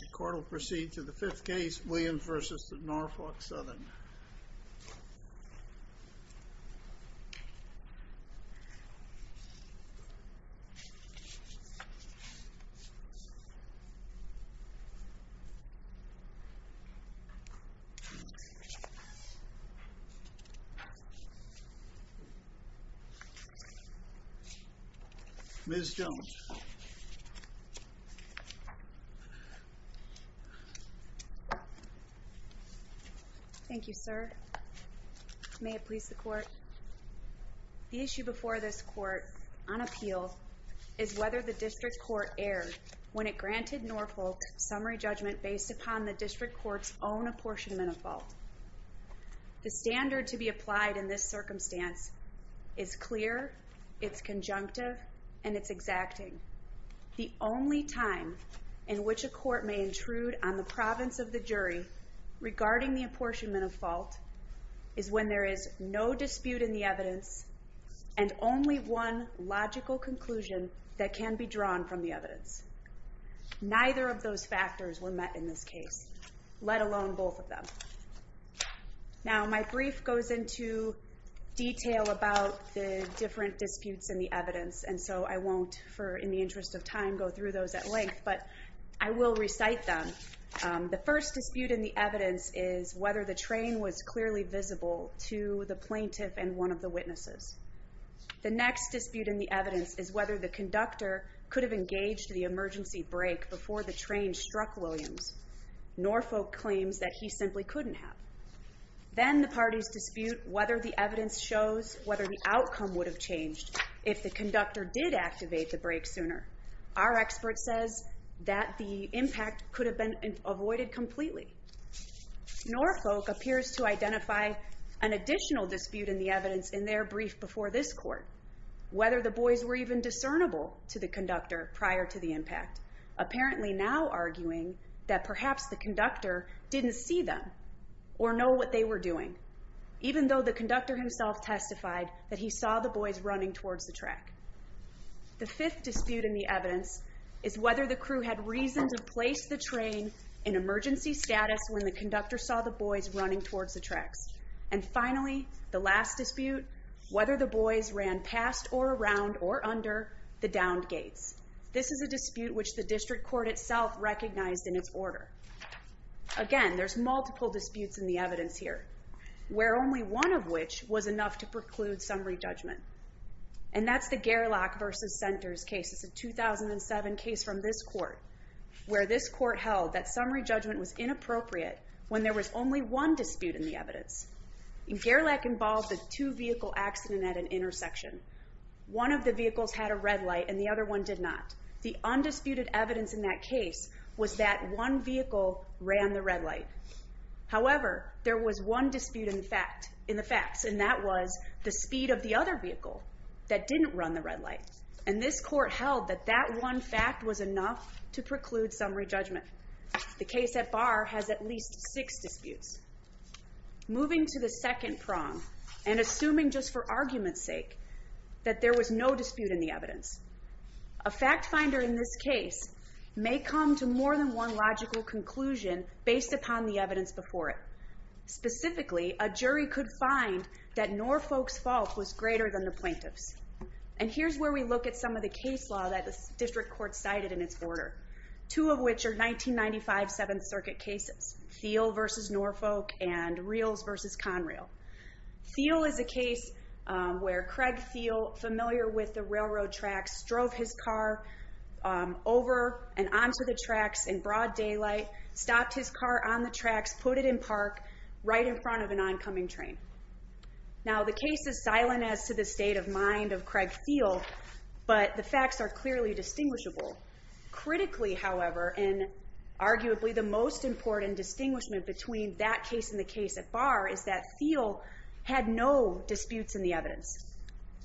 The court will proceed to the 5th case, Williams v. Norfolk Southern. The court will proceed to the 5th case, Williams v. Norfolk Southern. Ms. Jones. Thank you, sir. May it please the court. The issue before this court, on appeal, is whether the district court erred when it granted Norfolk summary judgment based upon the district court's own apportionment of fault. The standard to be applied in this circumstance is clear, it's conjunctive, and it's exacting. The only time in which a court may intrude on the province of the jury regarding the apportionment of fault is when there is no dispute in the evidence and only one logical conclusion that can be drawn from the evidence. Neither of those factors were met in this case, let alone both of them. Now, my brief goes into detail about the different disputes in the evidence, and so I won't in the interest of time go through those at length, but I will recite them. The first dispute in the evidence is whether the train was clearly visible to the plaintiff and one of the witnesses. The next dispute in the evidence is whether the conductor could have engaged the emergency brake before the train struck Williams. Norfolk claims that he simply couldn't have. Then the parties dispute whether the evidence shows whether the outcome would have changed if the conductor did activate the brake sooner. Our expert says that the impact could have been avoided completely. Norfolk appears to identify an additional dispute in the evidence in their brief before this court, whether the boys were even discernible to the conductor prior to the impact, apparently now arguing that perhaps the conductor didn't see them or know what they were doing, even though the conductor himself testified that he saw the boys running towards the track. The fifth dispute in the evidence is whether the crew had reason to place the train in emergency status when the conductor saw the boys running towards the tracks. And finally, the last dispute, whether the boys ran past or around or under the downed gates. This is a dispute which the district court itself recognized in its order. Again, there's multiple disputes in the evidence here, where only one of which was enough to preclude summary judgment. And that's the Gerlach versus Centers case. It's a 2007 case from this court, where this court held that summary judgment was inappropriate when there was only one dispute in the evidence. Gerlach involved a two-vehicle accident at an intersection. One of the reasons it did not, the undisputed evidence in that case, was that one vehicle ran the red light. However, there was one dispute in the facts, and that was the speed of the other vehicle that didn't run the red light. And this court held that that one fact was enough to preclude summary judgment. The case at bar has at least six disputes. Moving to the second prong, and assuming just for argument's sake that there was no fact-finder in this case, may come to more than one logical conclusion based upon the evidence before it. Specifically, a jury could find that Norfolk's fault was greater than the plaintiff's. And here's where we look at some of the case law that the district court cited in its order, two of which are 1995 Seventh Circuit cases. Thiel versus Norfolk, and Reals versus Conrail. Thiel is a case where Craig Thiel, familiar with the railroad tracks, drove his car over and onto the tracks in broad daylight, stopped his car on the tracks, put it in park, right in front of an oncoming train. Now, the case is silent as to the state of mind of Craig Thiel, but the facts are clearly distinguishable. Critically, however, in arguably the most important distinguishment between that case and the case at bar is that Thiel had no disputes in the evidence.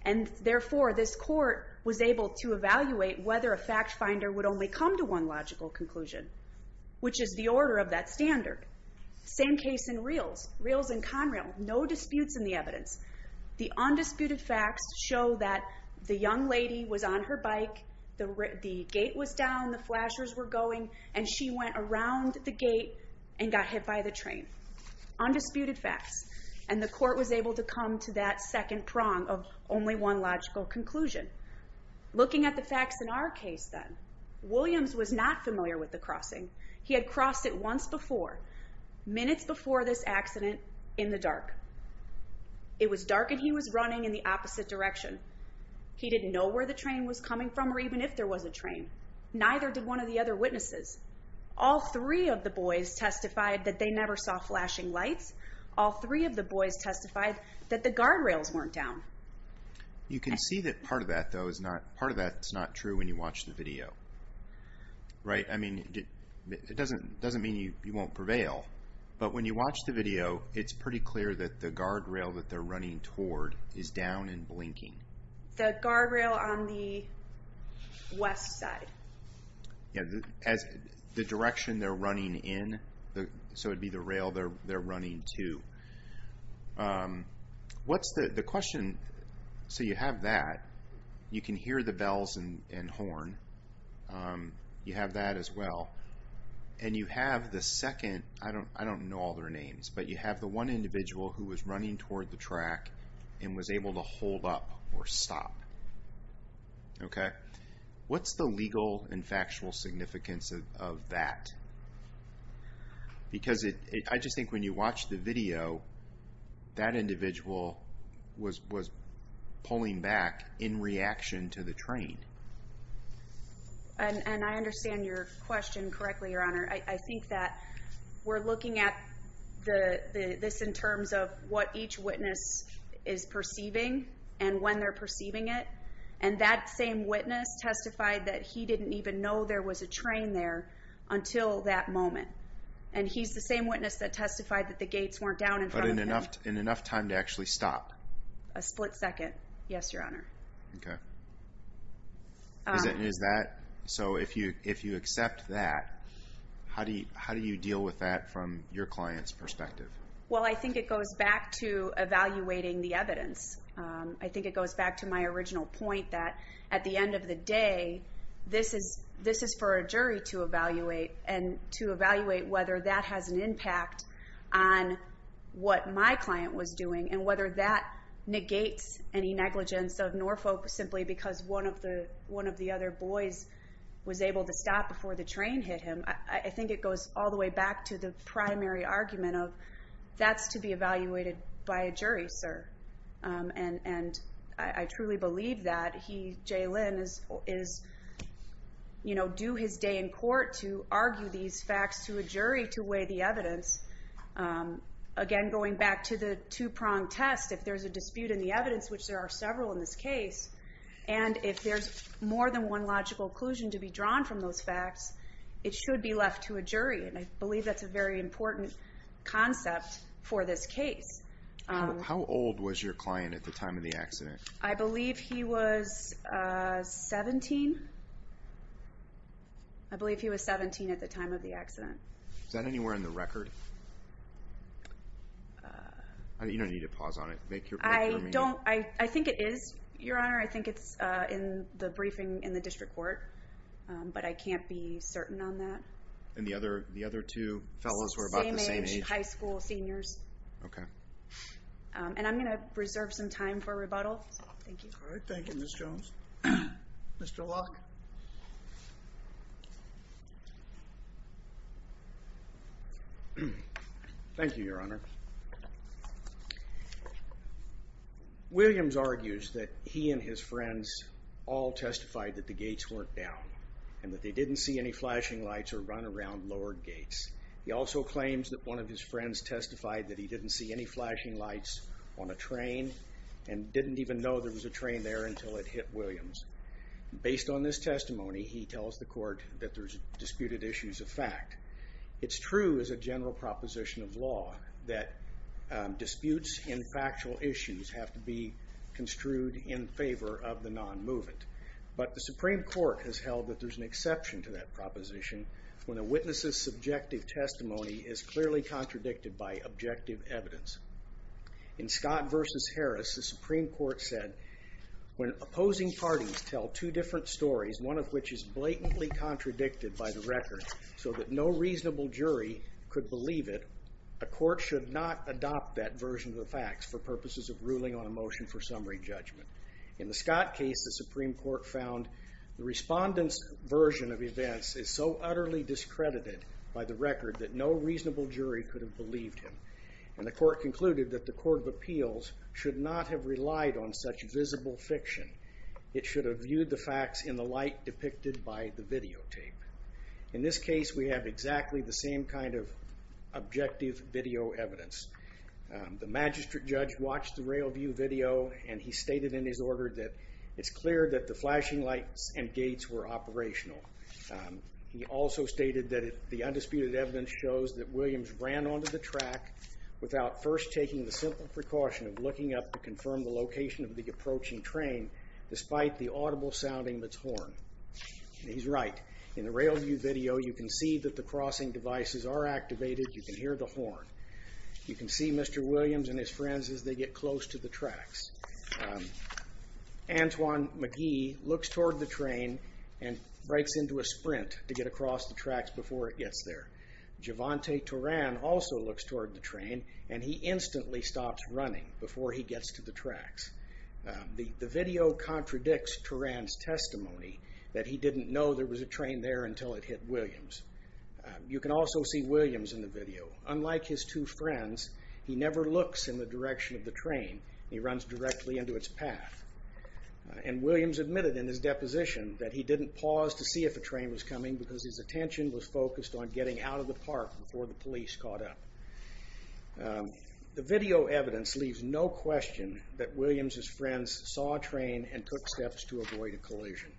And therefore, this court was able to evaluate whether a fact-finder would only come to one logical conclusion, which is the order of that standard. Same case in Reals. Reals and Conrail. No disputes in the evidence. The undisputed facts show that the young lady was on her bike, the gate was down, the flashers were going, and she went around the gate and got hit by the train. Undisputed facts. And the court was able to come to that second prong of only one logical conclusion. Looking at the facts in our case, then, Williams was not familiar with the crossing. He had crossed it once before, minutes before this accident, in the dark. It was dark and he was running in the opposite direction. He didn't know where the train was coming from or even if there was a train. Neither did one of the other witnesses. All three of the boys testified that they never saw flashing lights. All three of the boys testified that the guardrails weren't down. You can see that part of that, though, is not true when you watch the video. Right? I mean, it doesn't mean you won't prevail, but when you watch the video, it's pretty clear that the guardrail that they're running toward is down and blinking. The guardrail on the west side. Yeah, the direction they're running in, so it would be the rail they're running to. What's the question? So you have that. You can hear the bells and horn. You have that as well. And you have the second, I don't know all their names, but you have the one individual who was running toward the track and was able to hold up or stop. What's the legal and factual significance of that? Because I just think when you watch the video, that individual was pulling back in reaction to the train. And I understand your question correctly, Your Honor. I think that we're looking at this in terms of what each witness is perceiving and when they're perceiving it. And that same witness testified that he didn't even know there was a train there until that moment. And he's the same witness that testified that the gates weren't down in front of him. But in enough time to actually stop? A split second, yes, Your Honor. So if you accept that, how do you deal with that from your client's perspective? Well, I think it goes back to evaluating the evidence. I think it goes back to my original point that at the end of the day, this is for a jury to evaluate and to evaluate whether that has an impact on what my client was doing and whether that negates any negligence of Norfolk simply because one of the other boys was able to stop before the train hit him. I think it goes all the way back to the primary argument of that's to be evaluated by a jury, sir. And I truly believe that J. Lynn is due his day in court to argue these facts to a jury to weigh the evidence. Again, going back to the two-prong test, if there's a dispute in the evidence, which there are several in this case, and if there's more than one logical conclusion to be drawn from those facts, it should be left to a jury. And I believe that's a very important concept for this case. How old was your client at the time of the accident? I believe he was 17. I believe he was 17 at the time of the accident. Is that anywhere in the record? You don't need to pause on it. I think it is, Your Honor. I think it's in the briefing in the district court, but I can't be certain on that. And the other two fellows were about the same age? Same age, high school seniors. Okay. And I'm going to preserve some time for rebuttal. Thank you. All right. Thank you, Ms. Jones. Mr. Locke. Thank you, Your Honor. Williams argues that he and his friends all testified that the gates weren't down and that they didn't see any flashing lights or run around lowered gates. He also claims that one of his friends testified that he didn't see any flashing lights on a train and didn't even know there was a train there until it hit Williams. Based on this testimony, he tells the court that there's disputed issues of fact. It's true as a general proposition of law that disputes in factual issues have to be construed in favor of the non-movement. But the Supreme Court has held that there's an exception to that proposition when a witness's testimony is clearly contradicted by objective evidence. In Scott v. Harris, the Supreme Court said, when opposing parties tell two different stories, one of which is blatantly contradicted by the record so that no reasonable jury could believe it, a court should not adopt that version of the facts for purposes of ruling on a motion for summary judgment. In the Scott case, the Supreme Court found the respondent's version of events is so utterly discredited by the record that no reasonable jury could have believed him. The court concluded that the court of appeals should not have relied on such visible fiction. It should have viewed the facts in the light depicted by the videotape. In this case, we have exactly the same kind of objective video evidence. The magistrate judge watched the rail view video and he stated in his order that it's clear that the flashing lights and gates were operational. He also stated that the undisputed evidence shows that Williams ran onto the track without first taking the simple precaution of looking up to confirm the location of the approaching train despite the audible sounding of its horn. He's right. In the rail view video, you can see that the crossing devices are activated. You can hear the horn. You can see Mr. Williams and his friends as they get close to the tracks. Antoine McGee looks toward the train and breaks into a sprint to get across the tracks before it gets there. Giovante Turan also looks toward the train and he instantly stops running before he gets to the tracks. The video contradicts Turan's testimony that he didn't know there was a train there until it hit Williams. You can also see Williams in the video. Unlike his two friends, he never looks in the direction of the train. He runs directly into its path. Williams admitted in his deposition that he didn't pause to see if a train was coming because his attention was focused on getting out of the park before the police caught up. The video evidence leaves no question that Williams' friends saw a train and took steps to avoid a collision.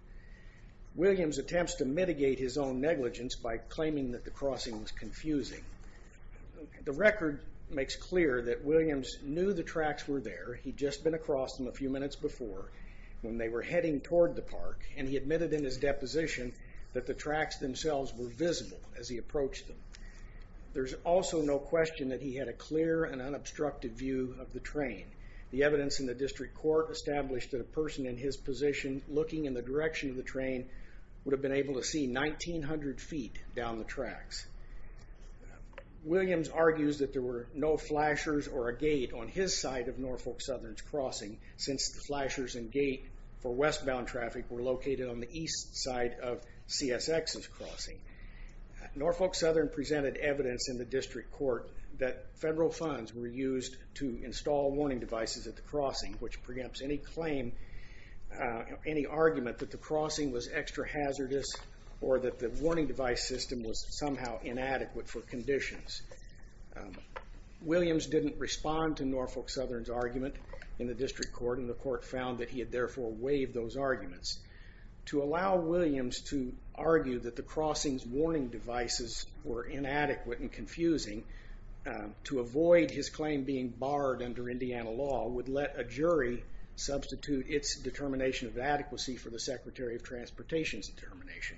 Williams attempts to mitigate his own negligence by claiming that the crossing was confusing. The record makes clear that Williams knew the tracks were there. He'd just been across them a few minutes before when they were heading toward the park and he admitted in his deposition that the tracks themselves were visible as he approached them. There's also no question that he had a clear and unobstructed view of the train. The evidence in the district court established that a person in his position looking in the direction of the train would have been able to see 1,900 feet down the tracks. Williams argues that there were no flashers or a gate on his side of Norfolk Southern's crossing since the flashers and gate for westbound traffic were located on the east side of CSX's crossing. Norfolk Southern presented evidence in the district court that federal funds were used to install warning devices at the crossing, which preempts any claim, any argument that the crossing was extra hazardous or that the warning device system was somehow inadequate for conditions. Williams didn't respond to Norfolk Southern's argument in the district court and the court found that he had therefore waived those arguments. To allow Williams to argue that the crossing's warning devices were inadequate and confusing to avoid his claim being barred under Indiana law would let a jury substitute its determination of adequacy for the Secretary of Transportation's determination.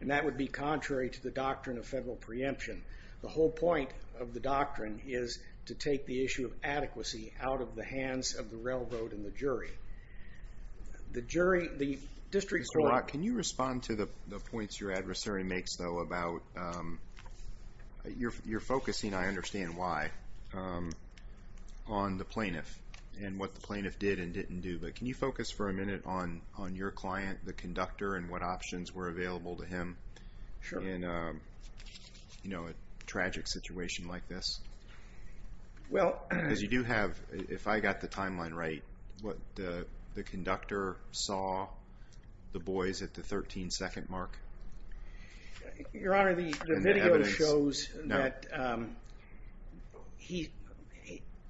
And that would be contrary to the doctrine of federal preemption. The whole point of the doctrine is to take the issue of adequacy out of the hands of the railroad and the jury. The jury, the district court... Can you respond to the points your adversary makes though about your focusing, I understand why, on the plaintiff and what the plaintiff did and didn't do, but can you focus for a minute on your client, the conductor, and what options were available to him in a tragic situation like this? Because you do have, if I got the timeline right, what the conductor saw the boys at the 13 second mark? Your Honor, the video shows that he,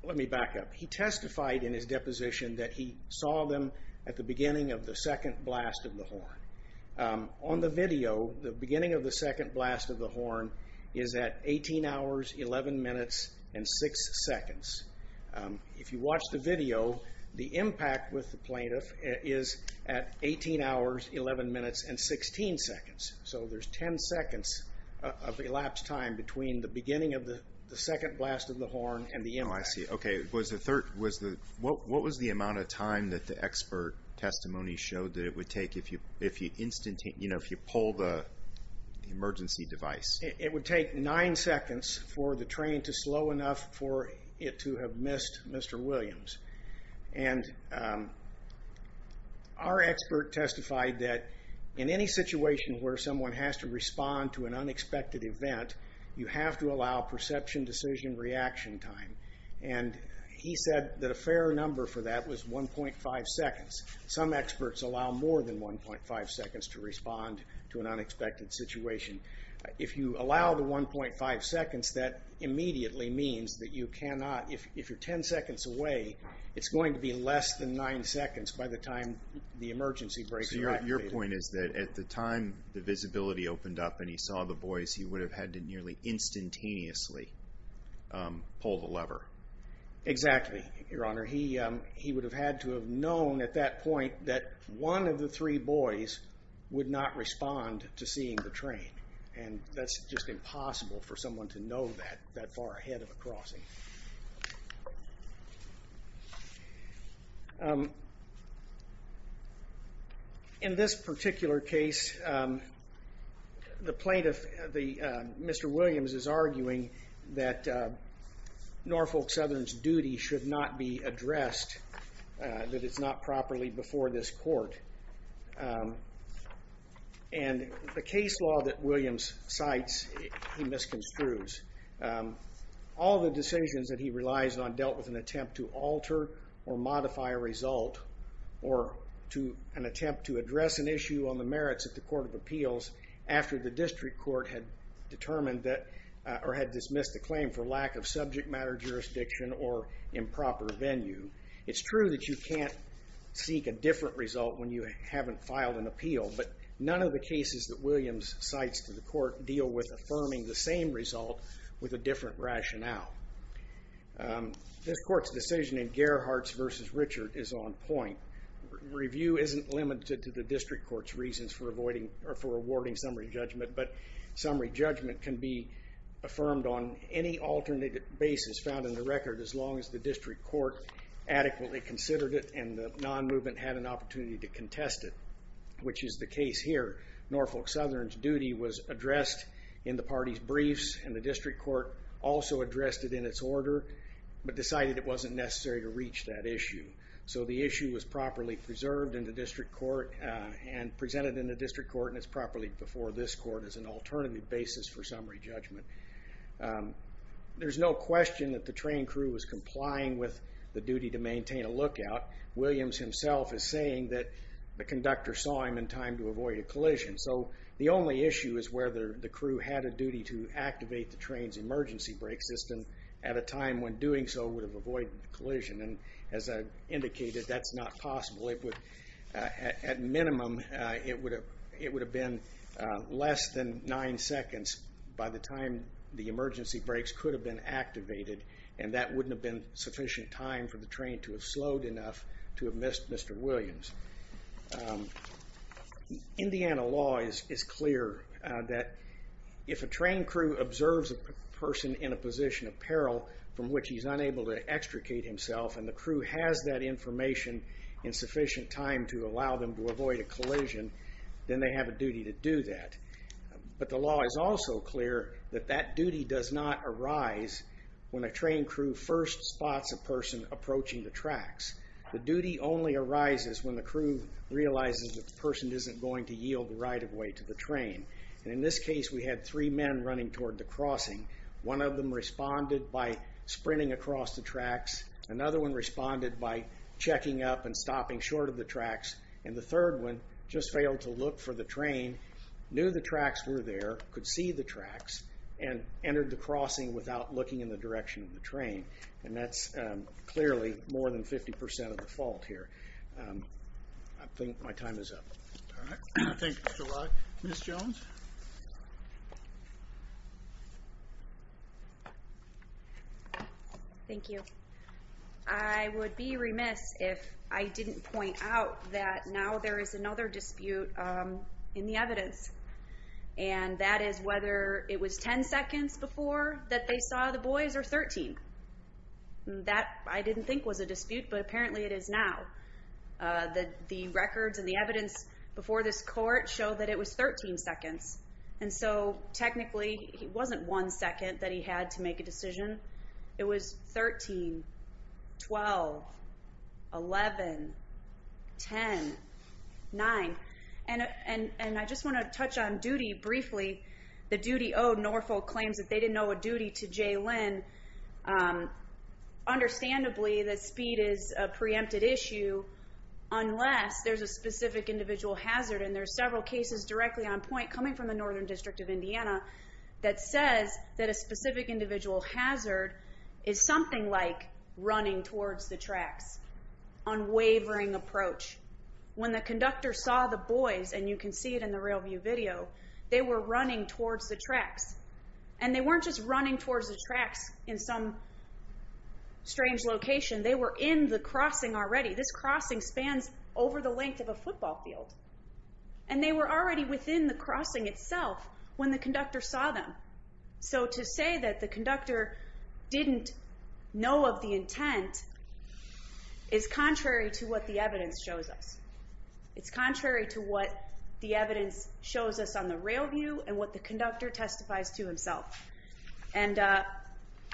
let me back up, he testified in his deposition that he saw them at the beginning of the second blast of the horn. The video, the beginning of the second blast of the horn, is at 18 hours, 11 minutes, and 6 seconds. If you watch the video, the impact with the plaintiff is at 18 hours, 11 minutes, and 16 seconds. So there's 10 seconds of elapsed time between the beginning of the second blast of the horn and the impact. Oh, I see. Okay. What was the amount of time that the expert testimony showed that it would take if you pull the emergency device? It would take 9 seconds for the train to slow enough for it to have missed Mr. Williams. Our expert testified that in any situation where someone has to respond to an unexpected event, you have to allow perception, decision, reaction time. He said that a fair number for that was 1.5 seconds. Some experts allow more than 1.5 seconds to respond to an unexpected situation. If you allow the 1.5 seconds that immediately means that you cannot, if you're 10 seconds away, it's going to be less than 9 seconds by the time the emergency breaks. So your point is that at the time the visibility opened up and he saw the boys, he would have had to nearly instantaneously pull the lever. Exactly, Your Honor. He would have had to have known at that point that one of the three boys would not respond to seeing the train. And that's just impossible for someone to know that that far ahead of a crossing. In this particular case the plaintiff, Mr. Williams, is arguing that Norfolk Southern's duty should not be addressed, that it's not properly before this court. And the case law that Williams cites he misconstrues. All the decisions that he relies on dealt with an attempt to alter or modify a result or an attempt to address an issue on the merits of the Court of Appeals after the District Court had determined that, or had dismissed the claim for lack of improper venue. It's true that you can't seek a different result when you haven't filed an appeal, but none of the cases that Williams cites to the court deal with affirming the same result with a different rationale. This court's decision in Gerhart's v. Richard is on point. Review isn't limited to the District Court's reasons for awarding summary judgment, but summary judgment can be affirmed on any alternative basis found in the record as long as the District Court adequately considered it and the non-movement had an opportunity to contest it, which is the case here. Norfolk Southern's duty was addressed in the party's briefs and the District Court also addressed it in its order but decided it wasn't necessary to reach that issue. So the issue was properly preserved in the District Court and presented in the District Court and it's properly before this court as an alternative basis for summary judgment. There's no question that the train crew was complying with the duty to maintain a lookout. Williams himself is saying that the conductor saw him in time to avoid a collision, so the only issue is whether the crew had a duty to activate the train's emergency brake system at a time when doing so would have avoided the collision and as I indicated, that's not possible. At minimum, it would have been less than nine seconds by the time the emergency brakes could have been activated and that wouldn't have been sufficient time for the train to have slowed enough to have missed Mr. Williams. Indiana law is clear that if a train crew observes a person in a position of peril from which he's unable to extricate himself and the crew has that information in sufficient time to allow them to avoid a collision, then they have a duty to do that, but the law is also clear that that duty does not arise when a train crew first spots a person approaching the tracks. The duty only arises when the crew realizes that the person isn't going to yield right of way to the train and in this case, we had three men running toward the crossing. One of them responded by sprinting across the tracks, another one responded by checking up and stopping short of the tracks, and the third one just failed to look for the train, knew the tracks were there, could see the tracks, and entered the crossing without looking in the direction of the train, and that's clearly more than 50% of the fault here. I think my time is up. Thank you Mr. Wright. Ms. Jones? Thank you. I would be remiss if I didn't point out that now there is another dispute in the evidence, and that is whether it was 10 seconds before that they saw the boys or 13. I didn't think it was a dispute, but apparently it is now. The records and the evidence before this court show that it was 13 seconds, and so technically, it wasn't one second that he had to make a decision. It was 13, 12, 11, 10, 9, and I just want to touch on duty briefly. The duty owed Norfolk claims that they didn't owe a duty to Jay Lynn. Understandably, the speed is a preempted issue unless there's a specific individual hazard, and there are several cases directly on point coming from the Northern District of Indiana that says that a specific individual hazard is something like running towards the tracks, unwavering approach. When the conductor saw the boys, and you can see it in the real view video, they were running towards the tracks, and they weren't just running towards the tracks in some strange location. They were in the crossing already. This crossing spans over the length of a football field, and they were already within the crossing didn't know of the intent is contrary to what the evidence shows us. It's contrary to what the evidence shows us on the real view and what the conductor testifies to himself, and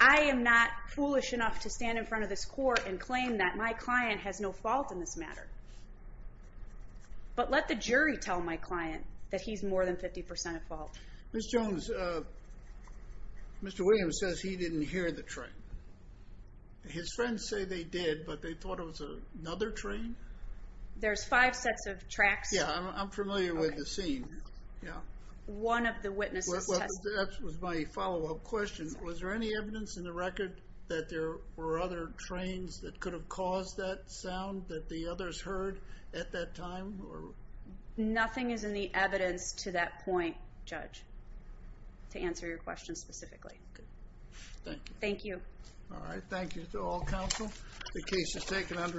I am not foolish enough to stand in front of this court and claim that my client has no fault in this matter, but let the jury tell my client that he's more than 50% at fault. Ms. Jones, Mr. Williams says he didn't hear the train. His friends say they did, but they thought it was another train? There's five sets of tracks. I'm familiar with the scene. One of the witnesses That was my follow-up question. Was there any evidence in the record that there were other trains that could have caused that sound that the others heard at that time? Nothing is in the record to answer your question specifically. Thank you.